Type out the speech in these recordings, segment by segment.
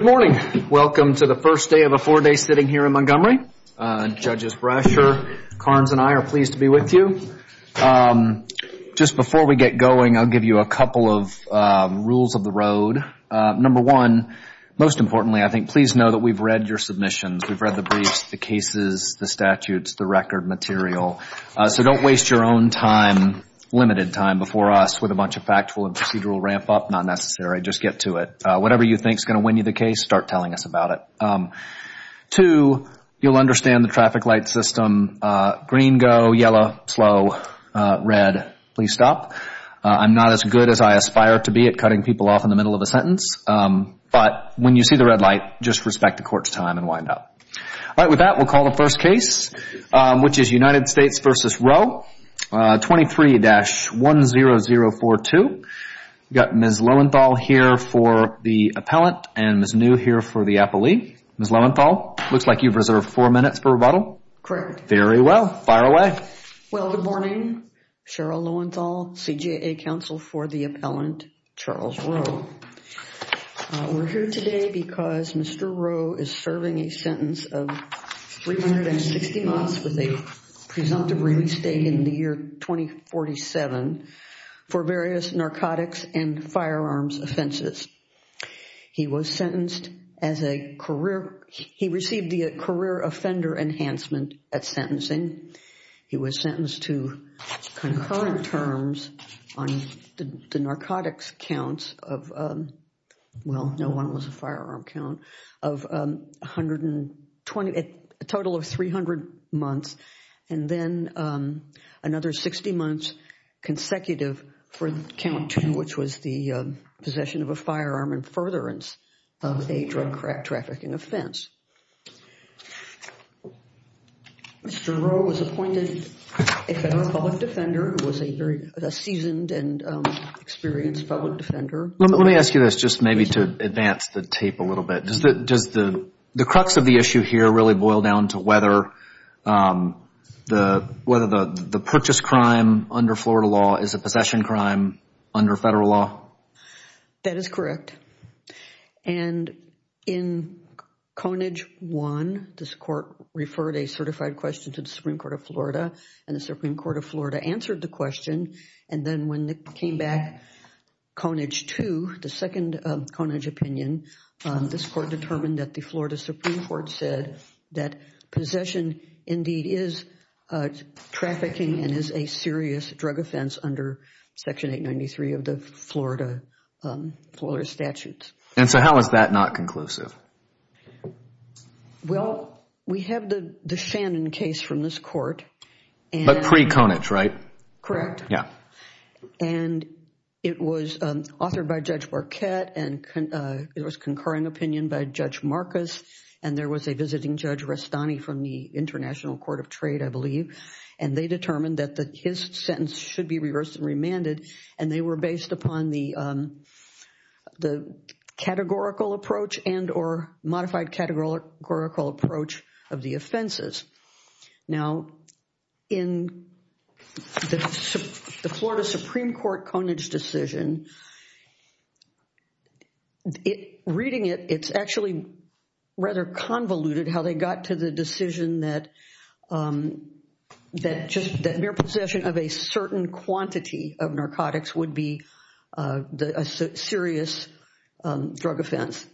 Good morning. Welcome to the first day of a four-day sitting here in Montgomery. Judges Brasher, Carnes, and I are pleased to be with you. Just before we get going, I'll give you a couple of rules of the road. Number one, most importantly, I think, please know that we've read your submissions. We've read the briefs, the cases, the statutes, the record material. So don't waste your own time, limited time, before us with a bunch of factual and procedural ramp-up. Not necessary. Just get to it. Whatever you think is going to win you the case, start telling us about it. Two, you'll understand the traffic light system. Green, go. Yellow, slow. Red, please stop. I'm not as good as I aspire to be at cutting people off in the middle of a sentence. But when you see the red light, just respect the court's time and wind up. All right. With that, we'll call the first case, which is United States v. Rowe, 23-10042. We've got Ms. Lowenthal here for the appellant and Ms. New here for the appellee. Ms. Lowenthal, looks like you've reserved four minutes for rebuttal. Correct. Very well. Fire away. Well, good morning. Cheryl Lowenthal, CJA counsel for the appellant, Charles Rowe. We're here today because Mr. Rowe is serving a sentence of 360 months with a presumptive release date in the year 2047 for various narcotics and firearms offenses. He was sentenced as a career—he received the career offender enhancement at sentencing. He was sentenced to concurrent terms on the narcotics counts of—well, no one was a firearm count— a total of 300 months, and then another 60 months consecutive for count two, which was the possession of a firearm and furtherance of a drug trafficking offense. Mr. Rowe was appointed a federal public defender. He was a seasoned and experienced public defender. Let me ask you this just maybe to advance the tape a little bit. Does the crux of the issue here really boil down to whether the purchase crime under Florida law is a possession crime under federal law? That is correct. And in Conage 1, this court referred a certified question to the Supreme Court of Florida, and the Supreme Court of Florida answered the question. And then when it came back, Conage 2, the second Conage opinion, this court determined that the Florida Supreme Court said that possession indeed is trafficking and is a serious drug offense under Section 893 of the Florida statutes. And so how is that not conclusive? Well, we have the Shannon case from this court. But pre-Conage, right? Correct. Yeah. And it was authored by Judge Marquette, and it was concurring opinion by Judge Marcus, and there was a visiting Judge Restani from the International Court of Trade, I believe. And they determined that his sentence should be reversed and remanded, and they were based upon the categorical approach and or modified categorical approach of the offenses. Now, in the Florida Supreme Court Conage decision, reading it, it's actually rather convoluted how they got to the decision that mere possession of a certain quantity of narcotics would be a serious drug offense.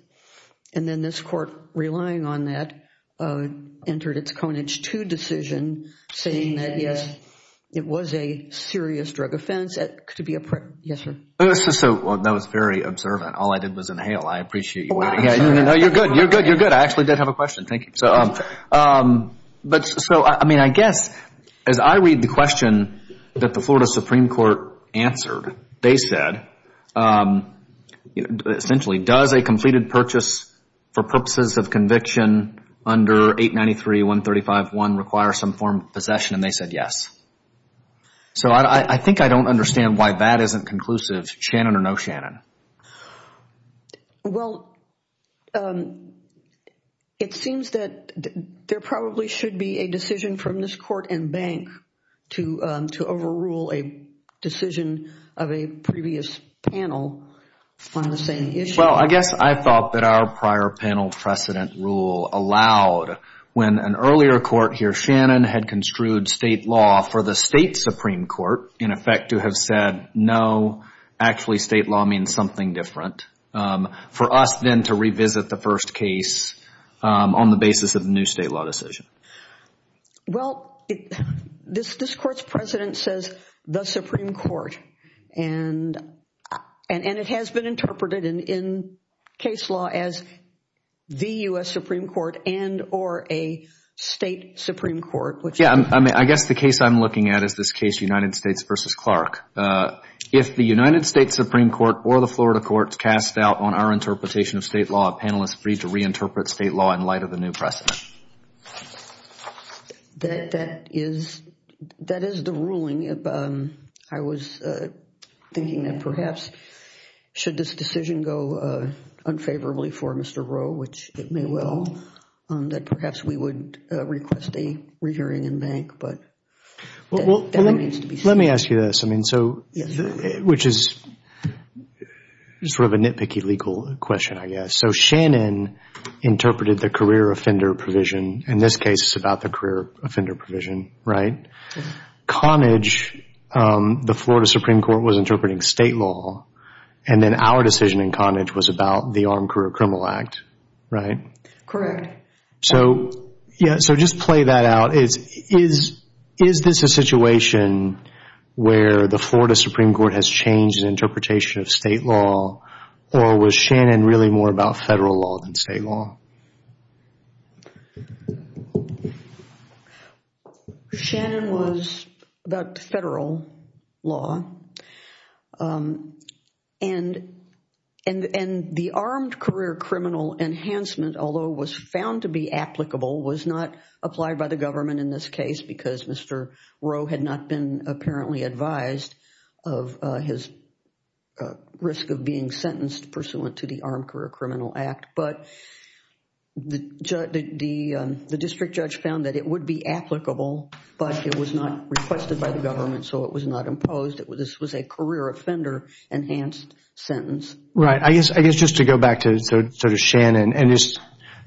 And then this court, relying on that, entered its Conage 2 decision saying that, yes, it was a serious drug offense. Yes, sir. Well, that was very observant. All I did was inhale. I appreciate you waiting. No, you're good. You're good. You're good. I actually did have a question. Thank you. But so, I mean, I guess as I read the question that the Florida Supreme Court answered, they said essentially does a completed purchase for purposes of conviction under 893.135.1 require some form of possession, and they said yes. So I think I don't understand why that isn't conclusive, Shannon or no Shannon. Well, it seems that there probably should be a decision from this court and bank to overrule a decision of a previous panel on the same issue. Well, I guess I thought that our prior panel precedent rule allowed when an earlier court here, for us then to revisit the first case on the basis of the new state law decision. Well, this court's precedent says the Supreme Court, and it has been interpreted in case law as the U.S. Supreme Court and or a state Supreme Court. Yeah, I guess the case I'm looking at is this case United States v. Clark. If the United States Supreme Court or the Florida courts cast doubt on our interpretation of state law, panelists are free to reinterpret state law in light of the new precedent. That is the ruling. I was thinking that perhaps should this decision go unfavorably for Mr. Rowe, which it may well, that perhaps we would request a re-hearing in bank, but that needs to be seen. Let me ask you this, which is sort of a nitpicky legal question, I guess. So Shannon interpreted the career offender provision. In this case, it's about the career offender provision, right? Yeah. Connage, the Florida Supreme Court was interpreting state law, and then our decision in Connage was about the Armed Career Criminal Act, right? Correct. Yeah, so just play that out. Is this a situation where the Florida Supreme Court has changed the interpretation of state law, or was Shannon really more about federal law than state law? Shannon was about federal law. And the Armed Career Criminal Enhancement, although it was found to be applicable, was not applied by the government in this case because Mr. Rowe had not been apparently advised of his risk of being sentenced pursuant to the Armed Career Criminal Act. But the district judge found that it would be applicable, but it was not requested by the government, so it was not imposed. This was a career offender enhanced sentence. Right. I guess just to go back to Shannon and just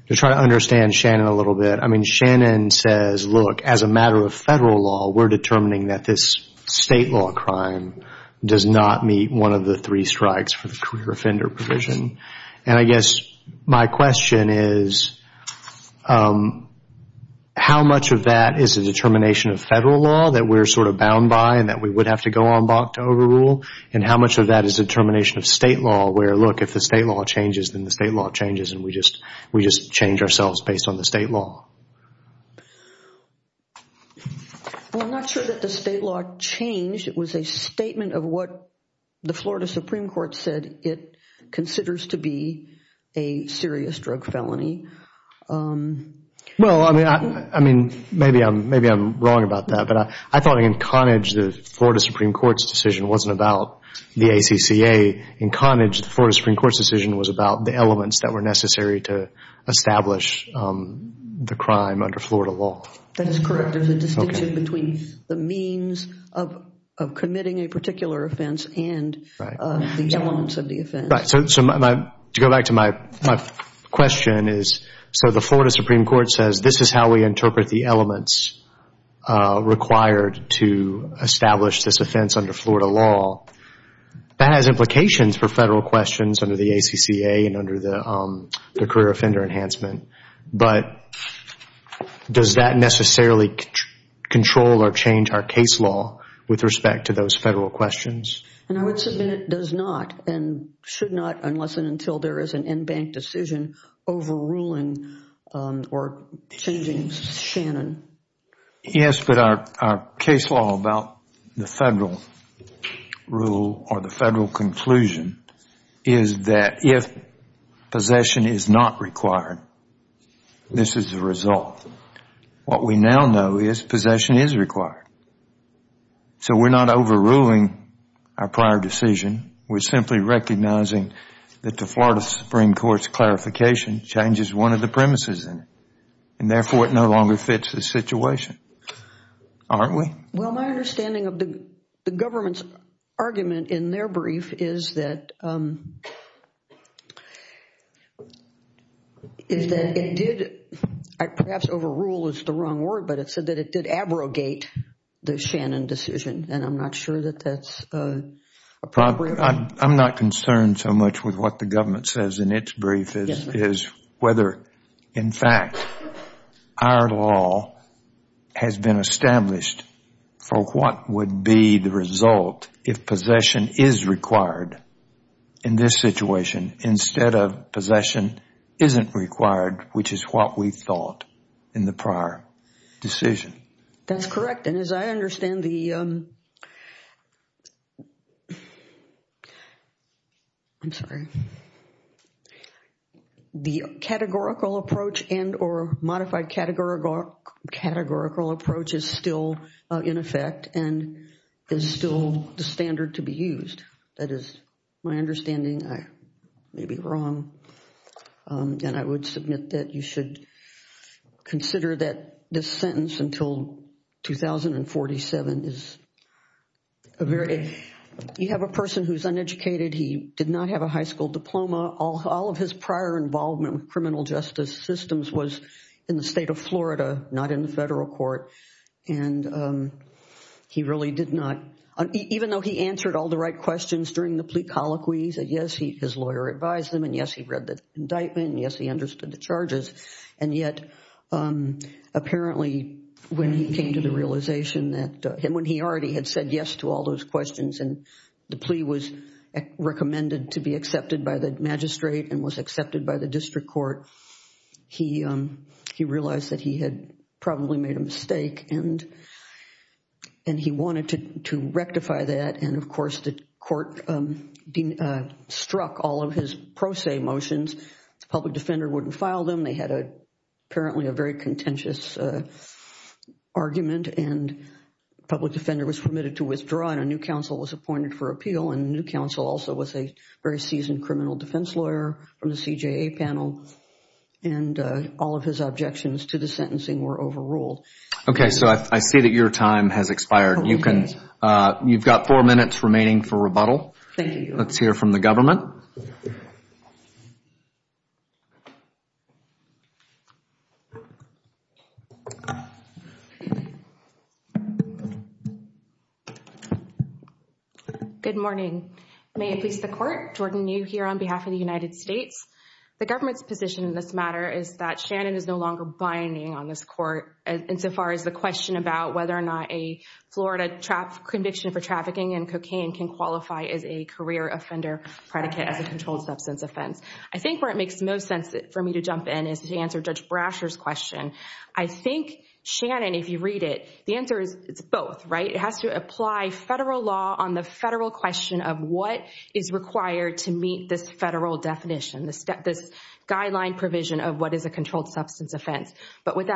to try to understand Shannon a little bit, I mean, Shannon says, look, as a matter of federal law, we're determining that this state law crime does not meet one of the three strikes for the career offender provision. And I guess my question is, how much of that is a determination of federal law that we're sort of bound by and that we would have to go on back to overrule? And how much of that is a determination of state law where, look, if the state law changes, then the state law changes and we just change ourselves based on the state law? Well, I'm not sure that the state law changed. It was a statement of what the Florida Supreme Court said it considers to be a serious drug felony. Well, I mean, maybe I'm wrong about that, but I thought in Connage, the Florida Supreme Court's decision wasn't about the ACCA. In Connage, the Florida Supreme Court's decision was about the elements that were necessary to establish the crime under Florida law. That is correct. There's a distinction between the means of committing a particular offense and the elements of the offense. Right. So to go back to my question is, so the Florida Supreme Court says this is how we interpret the elements required to establish this offense under Florida law. That has implications for federal questions under the ACCA and under the career offender enhancement. But does that necessarily control or change our case law with respect to those federal questions? And I would submit it does not and should not unless and until there is an in-bank decision overruling or changing Shannon. Yes, but our case law about the federal rule or the federal conclusion is that if possession is not required, this is the result. What we now know is possession is required. So we're not overruling our prior decision. We're simply recognizing that the Florida Supreme Court's clarification changes one of the premises and therefore it no longer fits the situation, aren't we? Well, my understanding of the government's argument in their brief is that it did, perhaps overrule is the wrong word, but it said that it did abrogate the Shannon decision. And I'm not sure that that's appropriate. I'm not concerned so much with what the government says in its brief is whether, in fact, our law has been established for what would be the result if possession is required in this situation instead of possession isn't required, which is what we thought in the prior decision. That's correct. And as I understand the categorical approach and or modified categorical approach is still in effect and is still the standard to be used. That is my understanding. I may be wrong. And I would submit that you should consider that this sentence until 2047 is a very – you have a person who's uneducated. He did not have a high school diploma. All of his prior involvement with criminal justice systems was in the state of Florida, not in the federal court. And he really did not – even though he answered all the right questions during the plea colloquy, he said, yes, his lawyer advised him and, yes, he read the indictment and, yes, he understood the charges. And yet, apparently, when he came to the realization that – and when he already had said yes to all those questions and the plea was recommended to be accepted by the magistrate and was accepted by the district court, he realized that he had probably made a mistake and he wanted to rectify that. And, of course, the court struck all of his pro se motions. The public defender wouldn't file them. They had apparently a very contentious argument and the public defender was permitted to withdraw and a new counsel was appointed for appeal. And the new counsel also was a very seasoned criminal defense lawyer from the CJA panel. And all of his objections to the sentencing were overruled. Okay. So I see that your time has expired. You can – you've got four minutes remaining for rebuttal. Thank you. Let's hear from the government. Good morning. May it please the Court, Jordan New here on behalf of the United States. The government's position in this matter is that Shannon is no longer binding on this court insofar as the question about whether or not a Florida conviction for trafficking in cocaine can qualify as a career offender predicate as a controlled substance offense. I think where it makes the most sense for me to jump in is to answer Judge Brasher's question. I think, Shannon, if you read it, the answer is it's both, right? It has to apply federal law on the federal question of what is required to meet this federal definition, this guideline provision of what is a controlled substance offense. But with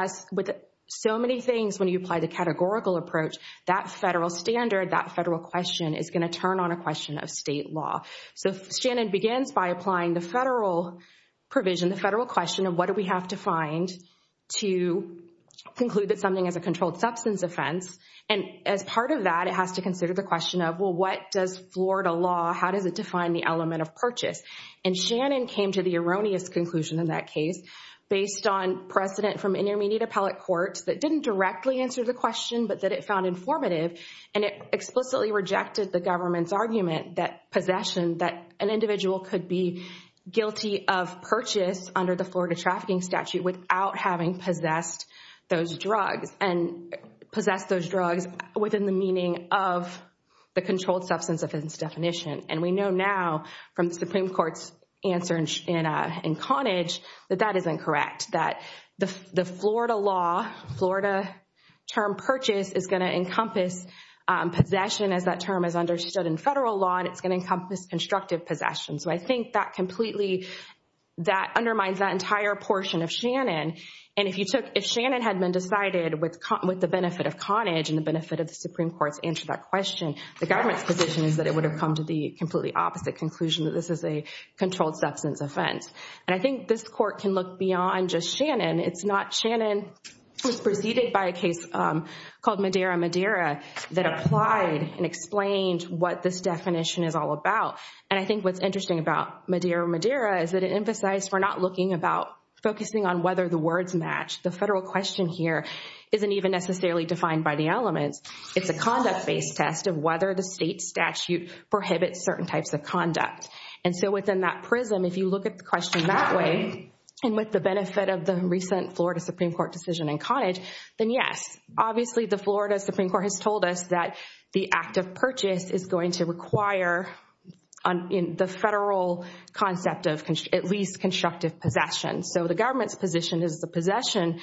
so many things, when you apply the categorical approach, that federal standard, that federal question is going to turn on a question of state law. So Shannon begins by applying the federal provision, the federal question of what do we have to find to conclude that something is a controlled substance offense. And as part of that, it has to consider the question of, well, what does Florida law, how does it define the element of purchase? And Shannon came to the erroneous conclusion in that case based on precedent from intermediate appellate courts that didn't directly answer the question but that it found informative. And it explicitly rejected the government's argument that possession, that an individual could be guilty of purchase under the Florida trafficking statute without having possessed those drugs and possessed those drugs within the meaning of the controlled substance offense definition. And we know now from the Supreme Court's answer in Connage that that is incorrect, that the Florida law, Florida term purchase is going to encompass possession as that term is understood in federal law and it's going to encompass constructive possession. So I think that completely, that undermines that entire portion of Shannon. And if Shannon had been decided with the benefit of Connage and the benefit of the Supreme Court's answer to that question, the government's position is that it would have come to the completely opposite conclusion that this is a controlled substance offense. And I think this court can look beyond just Shannon. It's not Shannon, it was preceded by a case called Madeira Madeira that applied and explained what this definition is all about. And I think what's interesting about Madeira Madeira is that it emphasized we're not looking about focusing on whether the words match. The federal question here isn't even necessarily defined by the elements. It's a conduct-based test of whether the state statute prohibits certain types of conduct. And so within that prism, if you look at the question that way and with the benefit of the recent Florida Supreme Court decision in Connage, then yes. Obviously, the Florida Supreme Court has told us that the act of purchase is going to require the federal concept of at least constructive possession. So the government's position is the possession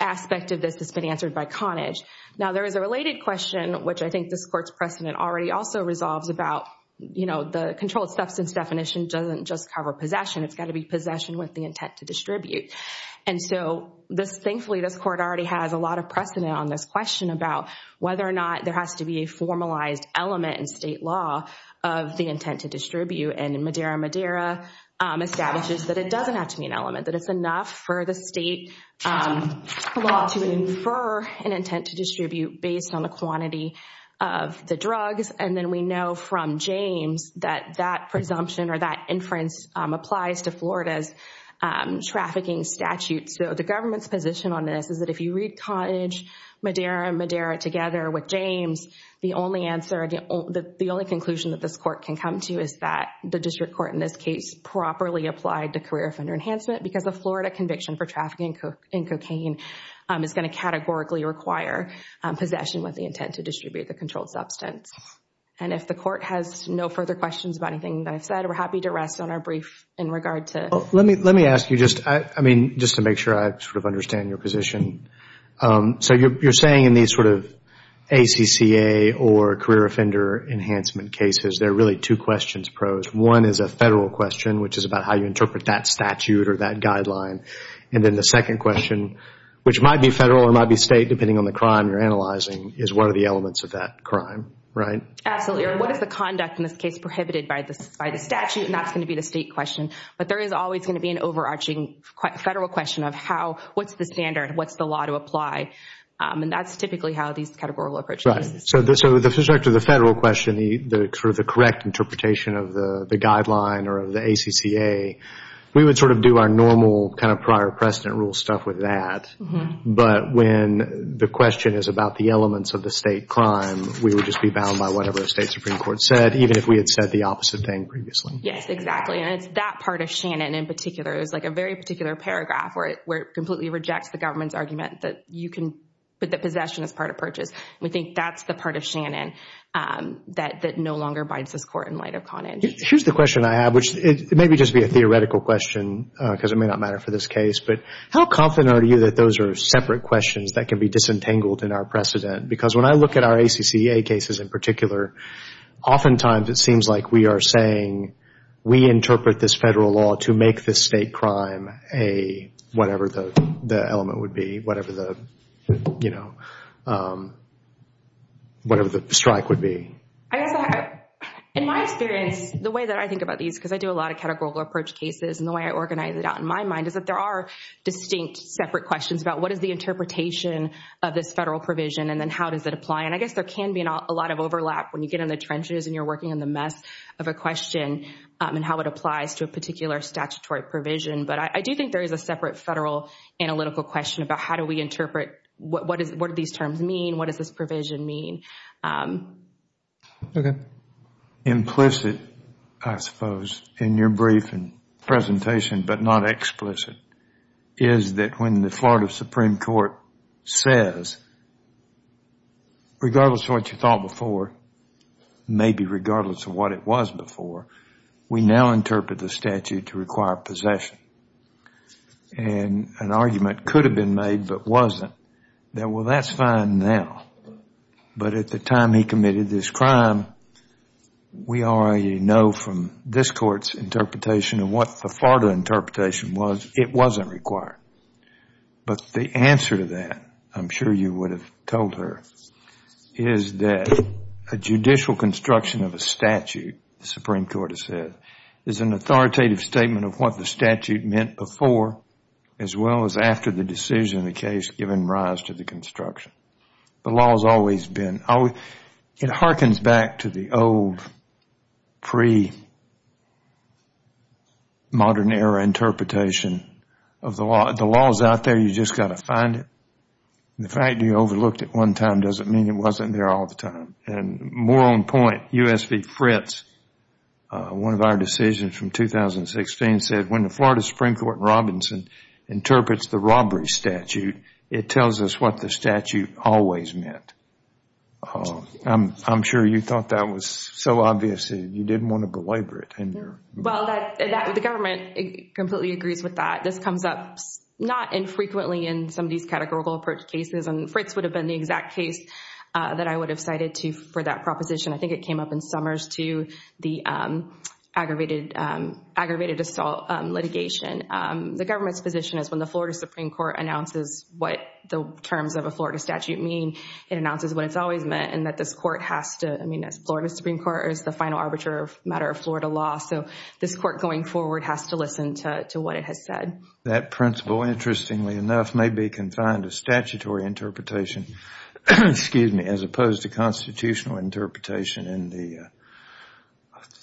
aspect of this has been answered by Connage. Now, there is a related question, which I think this court's precedent already also resolves, about the controlled substance definition doesn't just cover possession. It's got to be possession with the intent to distribute. And so thankfully, this court already has a lot of precedent on this question about whether or not there has to be a formalized element in state law of the intent to distribute. And Madeira Madeira establishes that it doesn't have to be an element, that it's enough for the state law to infer an intent to distribute based on the quantity of the drugs. And then we know from James that that presumption or that inference applies to Florida's trafficking statute. So the government's position on this is that if you read Connage, Madeira, Madeira together with James, the only answer, the only conclusion that this court can come to is that the district court in this case properly applied the career offender enhancement because a Florida conviction for trafficking in cocaine is going to categorically require possession with the intent to distribute the controlled substance. And if the court has no further questions about anything that I've said, we're happy to rest on our brief in regard to... Let me ask you just, I mean, just to make sure I sort of understand your position. So you're saying in these sort of ACCA or career offender enhancement cases, there are really two questions posed. One is a federal question, which is about how you interpret that statute or that guideline. And then the second question, which might be federal or might be state, depending on the crime you're analyzing, is what are the elements of that crime, right? Absolutely. What is the conduct in this case prohibited by the statute? And that's going to be the state question. But there is always going to be an overarching federal question of how, what's the standard? What's the law to apply? And that's typically how these categorical approaches... Right. So with respect to the federal question, the sort of the correct interpretation of the guideline or of the ACCA, we would sort of do our normal kind of prior precedent rule stuff with that. But when the question is about the elements of the state crime, we would just be bound by whatever the state Supreme Court said, even if we had said the opposite thing previously. Yes, exactly. And it's that part of Shannon in particular. It was like a very particular paragraph where it completely rejects the government's argument that you can put the possession as part of purchase. We think that's the part of Shannon that no longer bides this court in light of Conage. Here's the question I have, which may just be a theoretical question because it may not matter for this case, but how confident are you that those are separate questions that can be disentangled in our precedent? Because when I look at our ACCA cases in particular, oftentimes it seems like we are saying we interpret this federal law to make this state crime whatever the element would be, whatever the strike would be. In my experience, the way that I think about these, because I do a lot of categorical approach cases and the way I organize it out in my mind, is that there are distinct separate questions about what is the interpretation of this federal provision and then how does it apply. And I guess there can be a lot of overlap when you get in the trenches and you're working in the mess of a question and how it applies to a particular statutory provision. But I do think there is a separate federal analytical question about how do we interpret, what do these terms mean, what does this provision mean? Okay. Implicit, I suppose, in your briefing presentation, but not explicit, is that when the Florida Supreme Court says, regardless of what you thought before, maybe regardless of what it was before, we now interpret the statute to require possession. And an argument could have been made, but wasn't, that, well, that's fine now. But at the time he committed this crime, we already know from this court's interpretation and what the Florida interpretation was, it wasn't required. But the answer to that, I'm sure you would have told her, is that a judicial construction of a statute, the Supreme Court has said, is an authoritative statement of what the statute meant before as well as after the decision of the case given rise to the construction. The law has always been. It harkens back to the old pre-modern era interpretation of the law. The law is out there. You just got to find it. The fact you overlooked it one time doesn't mean it wasn't there all the time. And more on point, U.S. v. Fritz, one of our decisions from 2016, said when the Florida Supreme Court in Robinson interprets the robbery statute, it tells us what the statute always meant. I'm sure you thought that was so obvious that you didn't want to belabor it. Well, the government completely agrees with that. This comes up not infrequently in some of these categorical approach cases. And Fritz would have been the exact case that I would have cited for that proposition. I think it came up in Summers too, the aggravated assault litigation. The government's position is when the Florida Supreme Court announces what the terms of a Florida statute mean, it announces what it's always meant, and that this court has to, I mean, Florida Supreme Court is the final arbiter of matter of Florida law. So this court going forward has to listen to what it has said. That principle, interestingly enough, may be confined to statutory interpretation, excuse me, as opposed to constitutional interpretation and the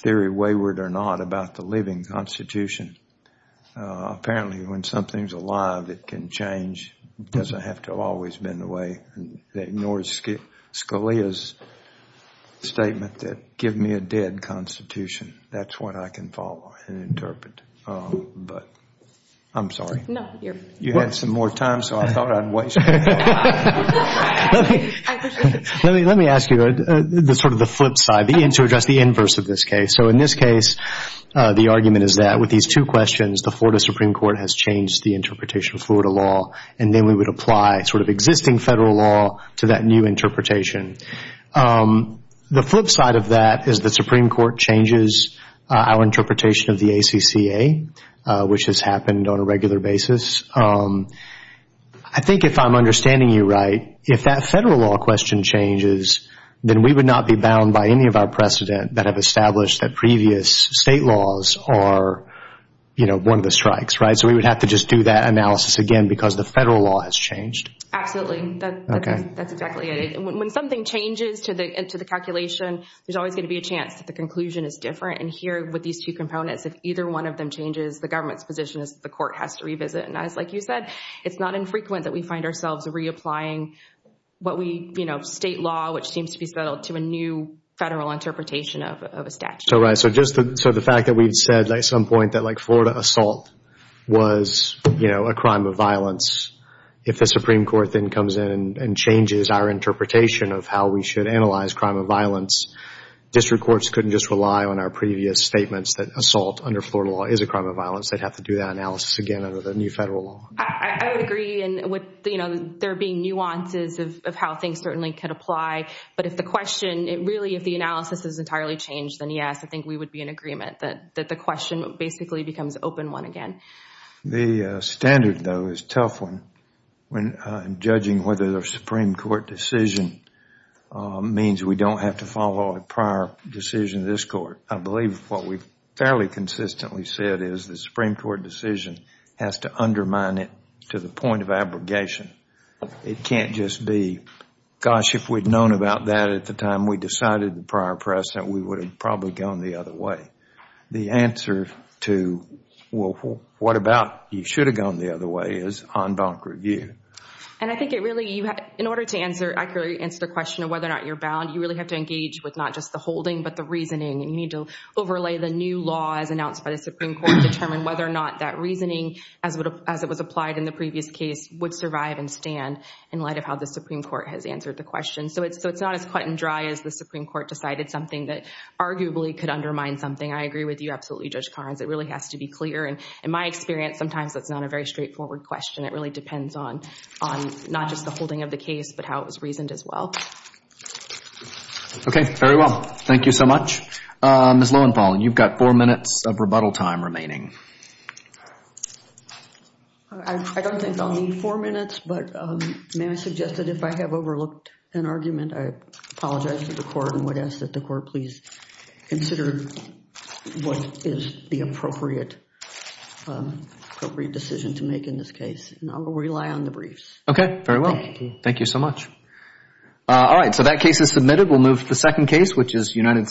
theory, wayward or not, about the living constitution. Apparently when something's alive, it can change. It doesn't have to always have been the way. It ignores Scalia's statement that give me a dead constitution. That's what I can follow and interpret. But I'm sorry. No, you're welcome. You had some more time, so I thought I'd waste it. Let me ask you sort of the flip side, to address the inverse of this case. So in this case, the argument is that with these two questions, the Florida Supreme Court has changed the interpretation of Florida law, and then we would apply sort of existing federal law to that new interpretation. The flip side of that is the Supreme Court changes our interpretation of the ACCA, which has happened on a regular basis. I think if I'm understanding you right, if that federal law question changes, then we would not be bound by any of our precedent that have established that previous state laws are, you know, one of the strikes, right? So we would have to just do that analysis again because the federal law has changed. Absolutely. That's exactly it. And when something changes to the calculation, there's always going to be a chance that the conclusion is different. And here, with these two components, if either one of them changes, the government's position is that the court has to revisit. And as, like you said, it's not infrequent that we find ourselves reapplying what we, you know, state law, which seems to be settled to a new federal interpretation of a statute. Right. So just the fact that we've said at some point that, like, Florida assault was, you know, a crime of violence. If the Supreme Court then comes in and changes our interpretation of how we should analyze crime of violence, district courts couldn't just rely on our previous statements that assault under Florida law is a crime of violence. They'd have to do that analysis again under the new federal law. I would agree. And with, you know, there being nuances of how things certainly could apply. But if the question, really, if the analysis is entirely changed, then yes, I think we would be in agreement that the question basically becomes open one again. The standard, though, is a tough one when judging whether the Supreme Court decision means we don't have to follow a prior decision of this court. I believe what we've fairly consistently said is the Supreme Court decision has to undermine it to the point of abrogation. It can't just be, gosh, if we'd known about that at the time we decided the prior precedent, we would have probably gone the other way. The answer to, well, what about you should have gone the other way is en banc revue. And I think it really, in order to answer, accurately answer the question of whether or not you're bound, you really have to engage with not just the holding but the reasoning. You need to overlay the new law as announced by the Supreme Court to determine whether or not that reasoning, as it was applied in the previous case, would survive and stand in light of how the Supreme Court has answered the question. So it's not as cut and dry as the Supreme Court decided something that arguably could undermine something. I agree with you absolutely, Judge Carnes. It really has to be clear. And in my experience, sometimes that's not a very straightforward question. It really depends on not just the holding of the case but how it was reasoned as well. Okay, very well. Thank you so much. Ms. Lowenthal, you've got four minutes of rebuttal time remaining. I don't think I'll need four minutes, but may I suggest that if I have overlooked an argument, I apologize to the court and would ask that the court please consider what is the appropriate decision to make in this case. And I will rely on the briefs. Okay, very well. Thank you. Thank you so much. All right, so that case is submitted. We'll move to the second case, which is United States v. New York.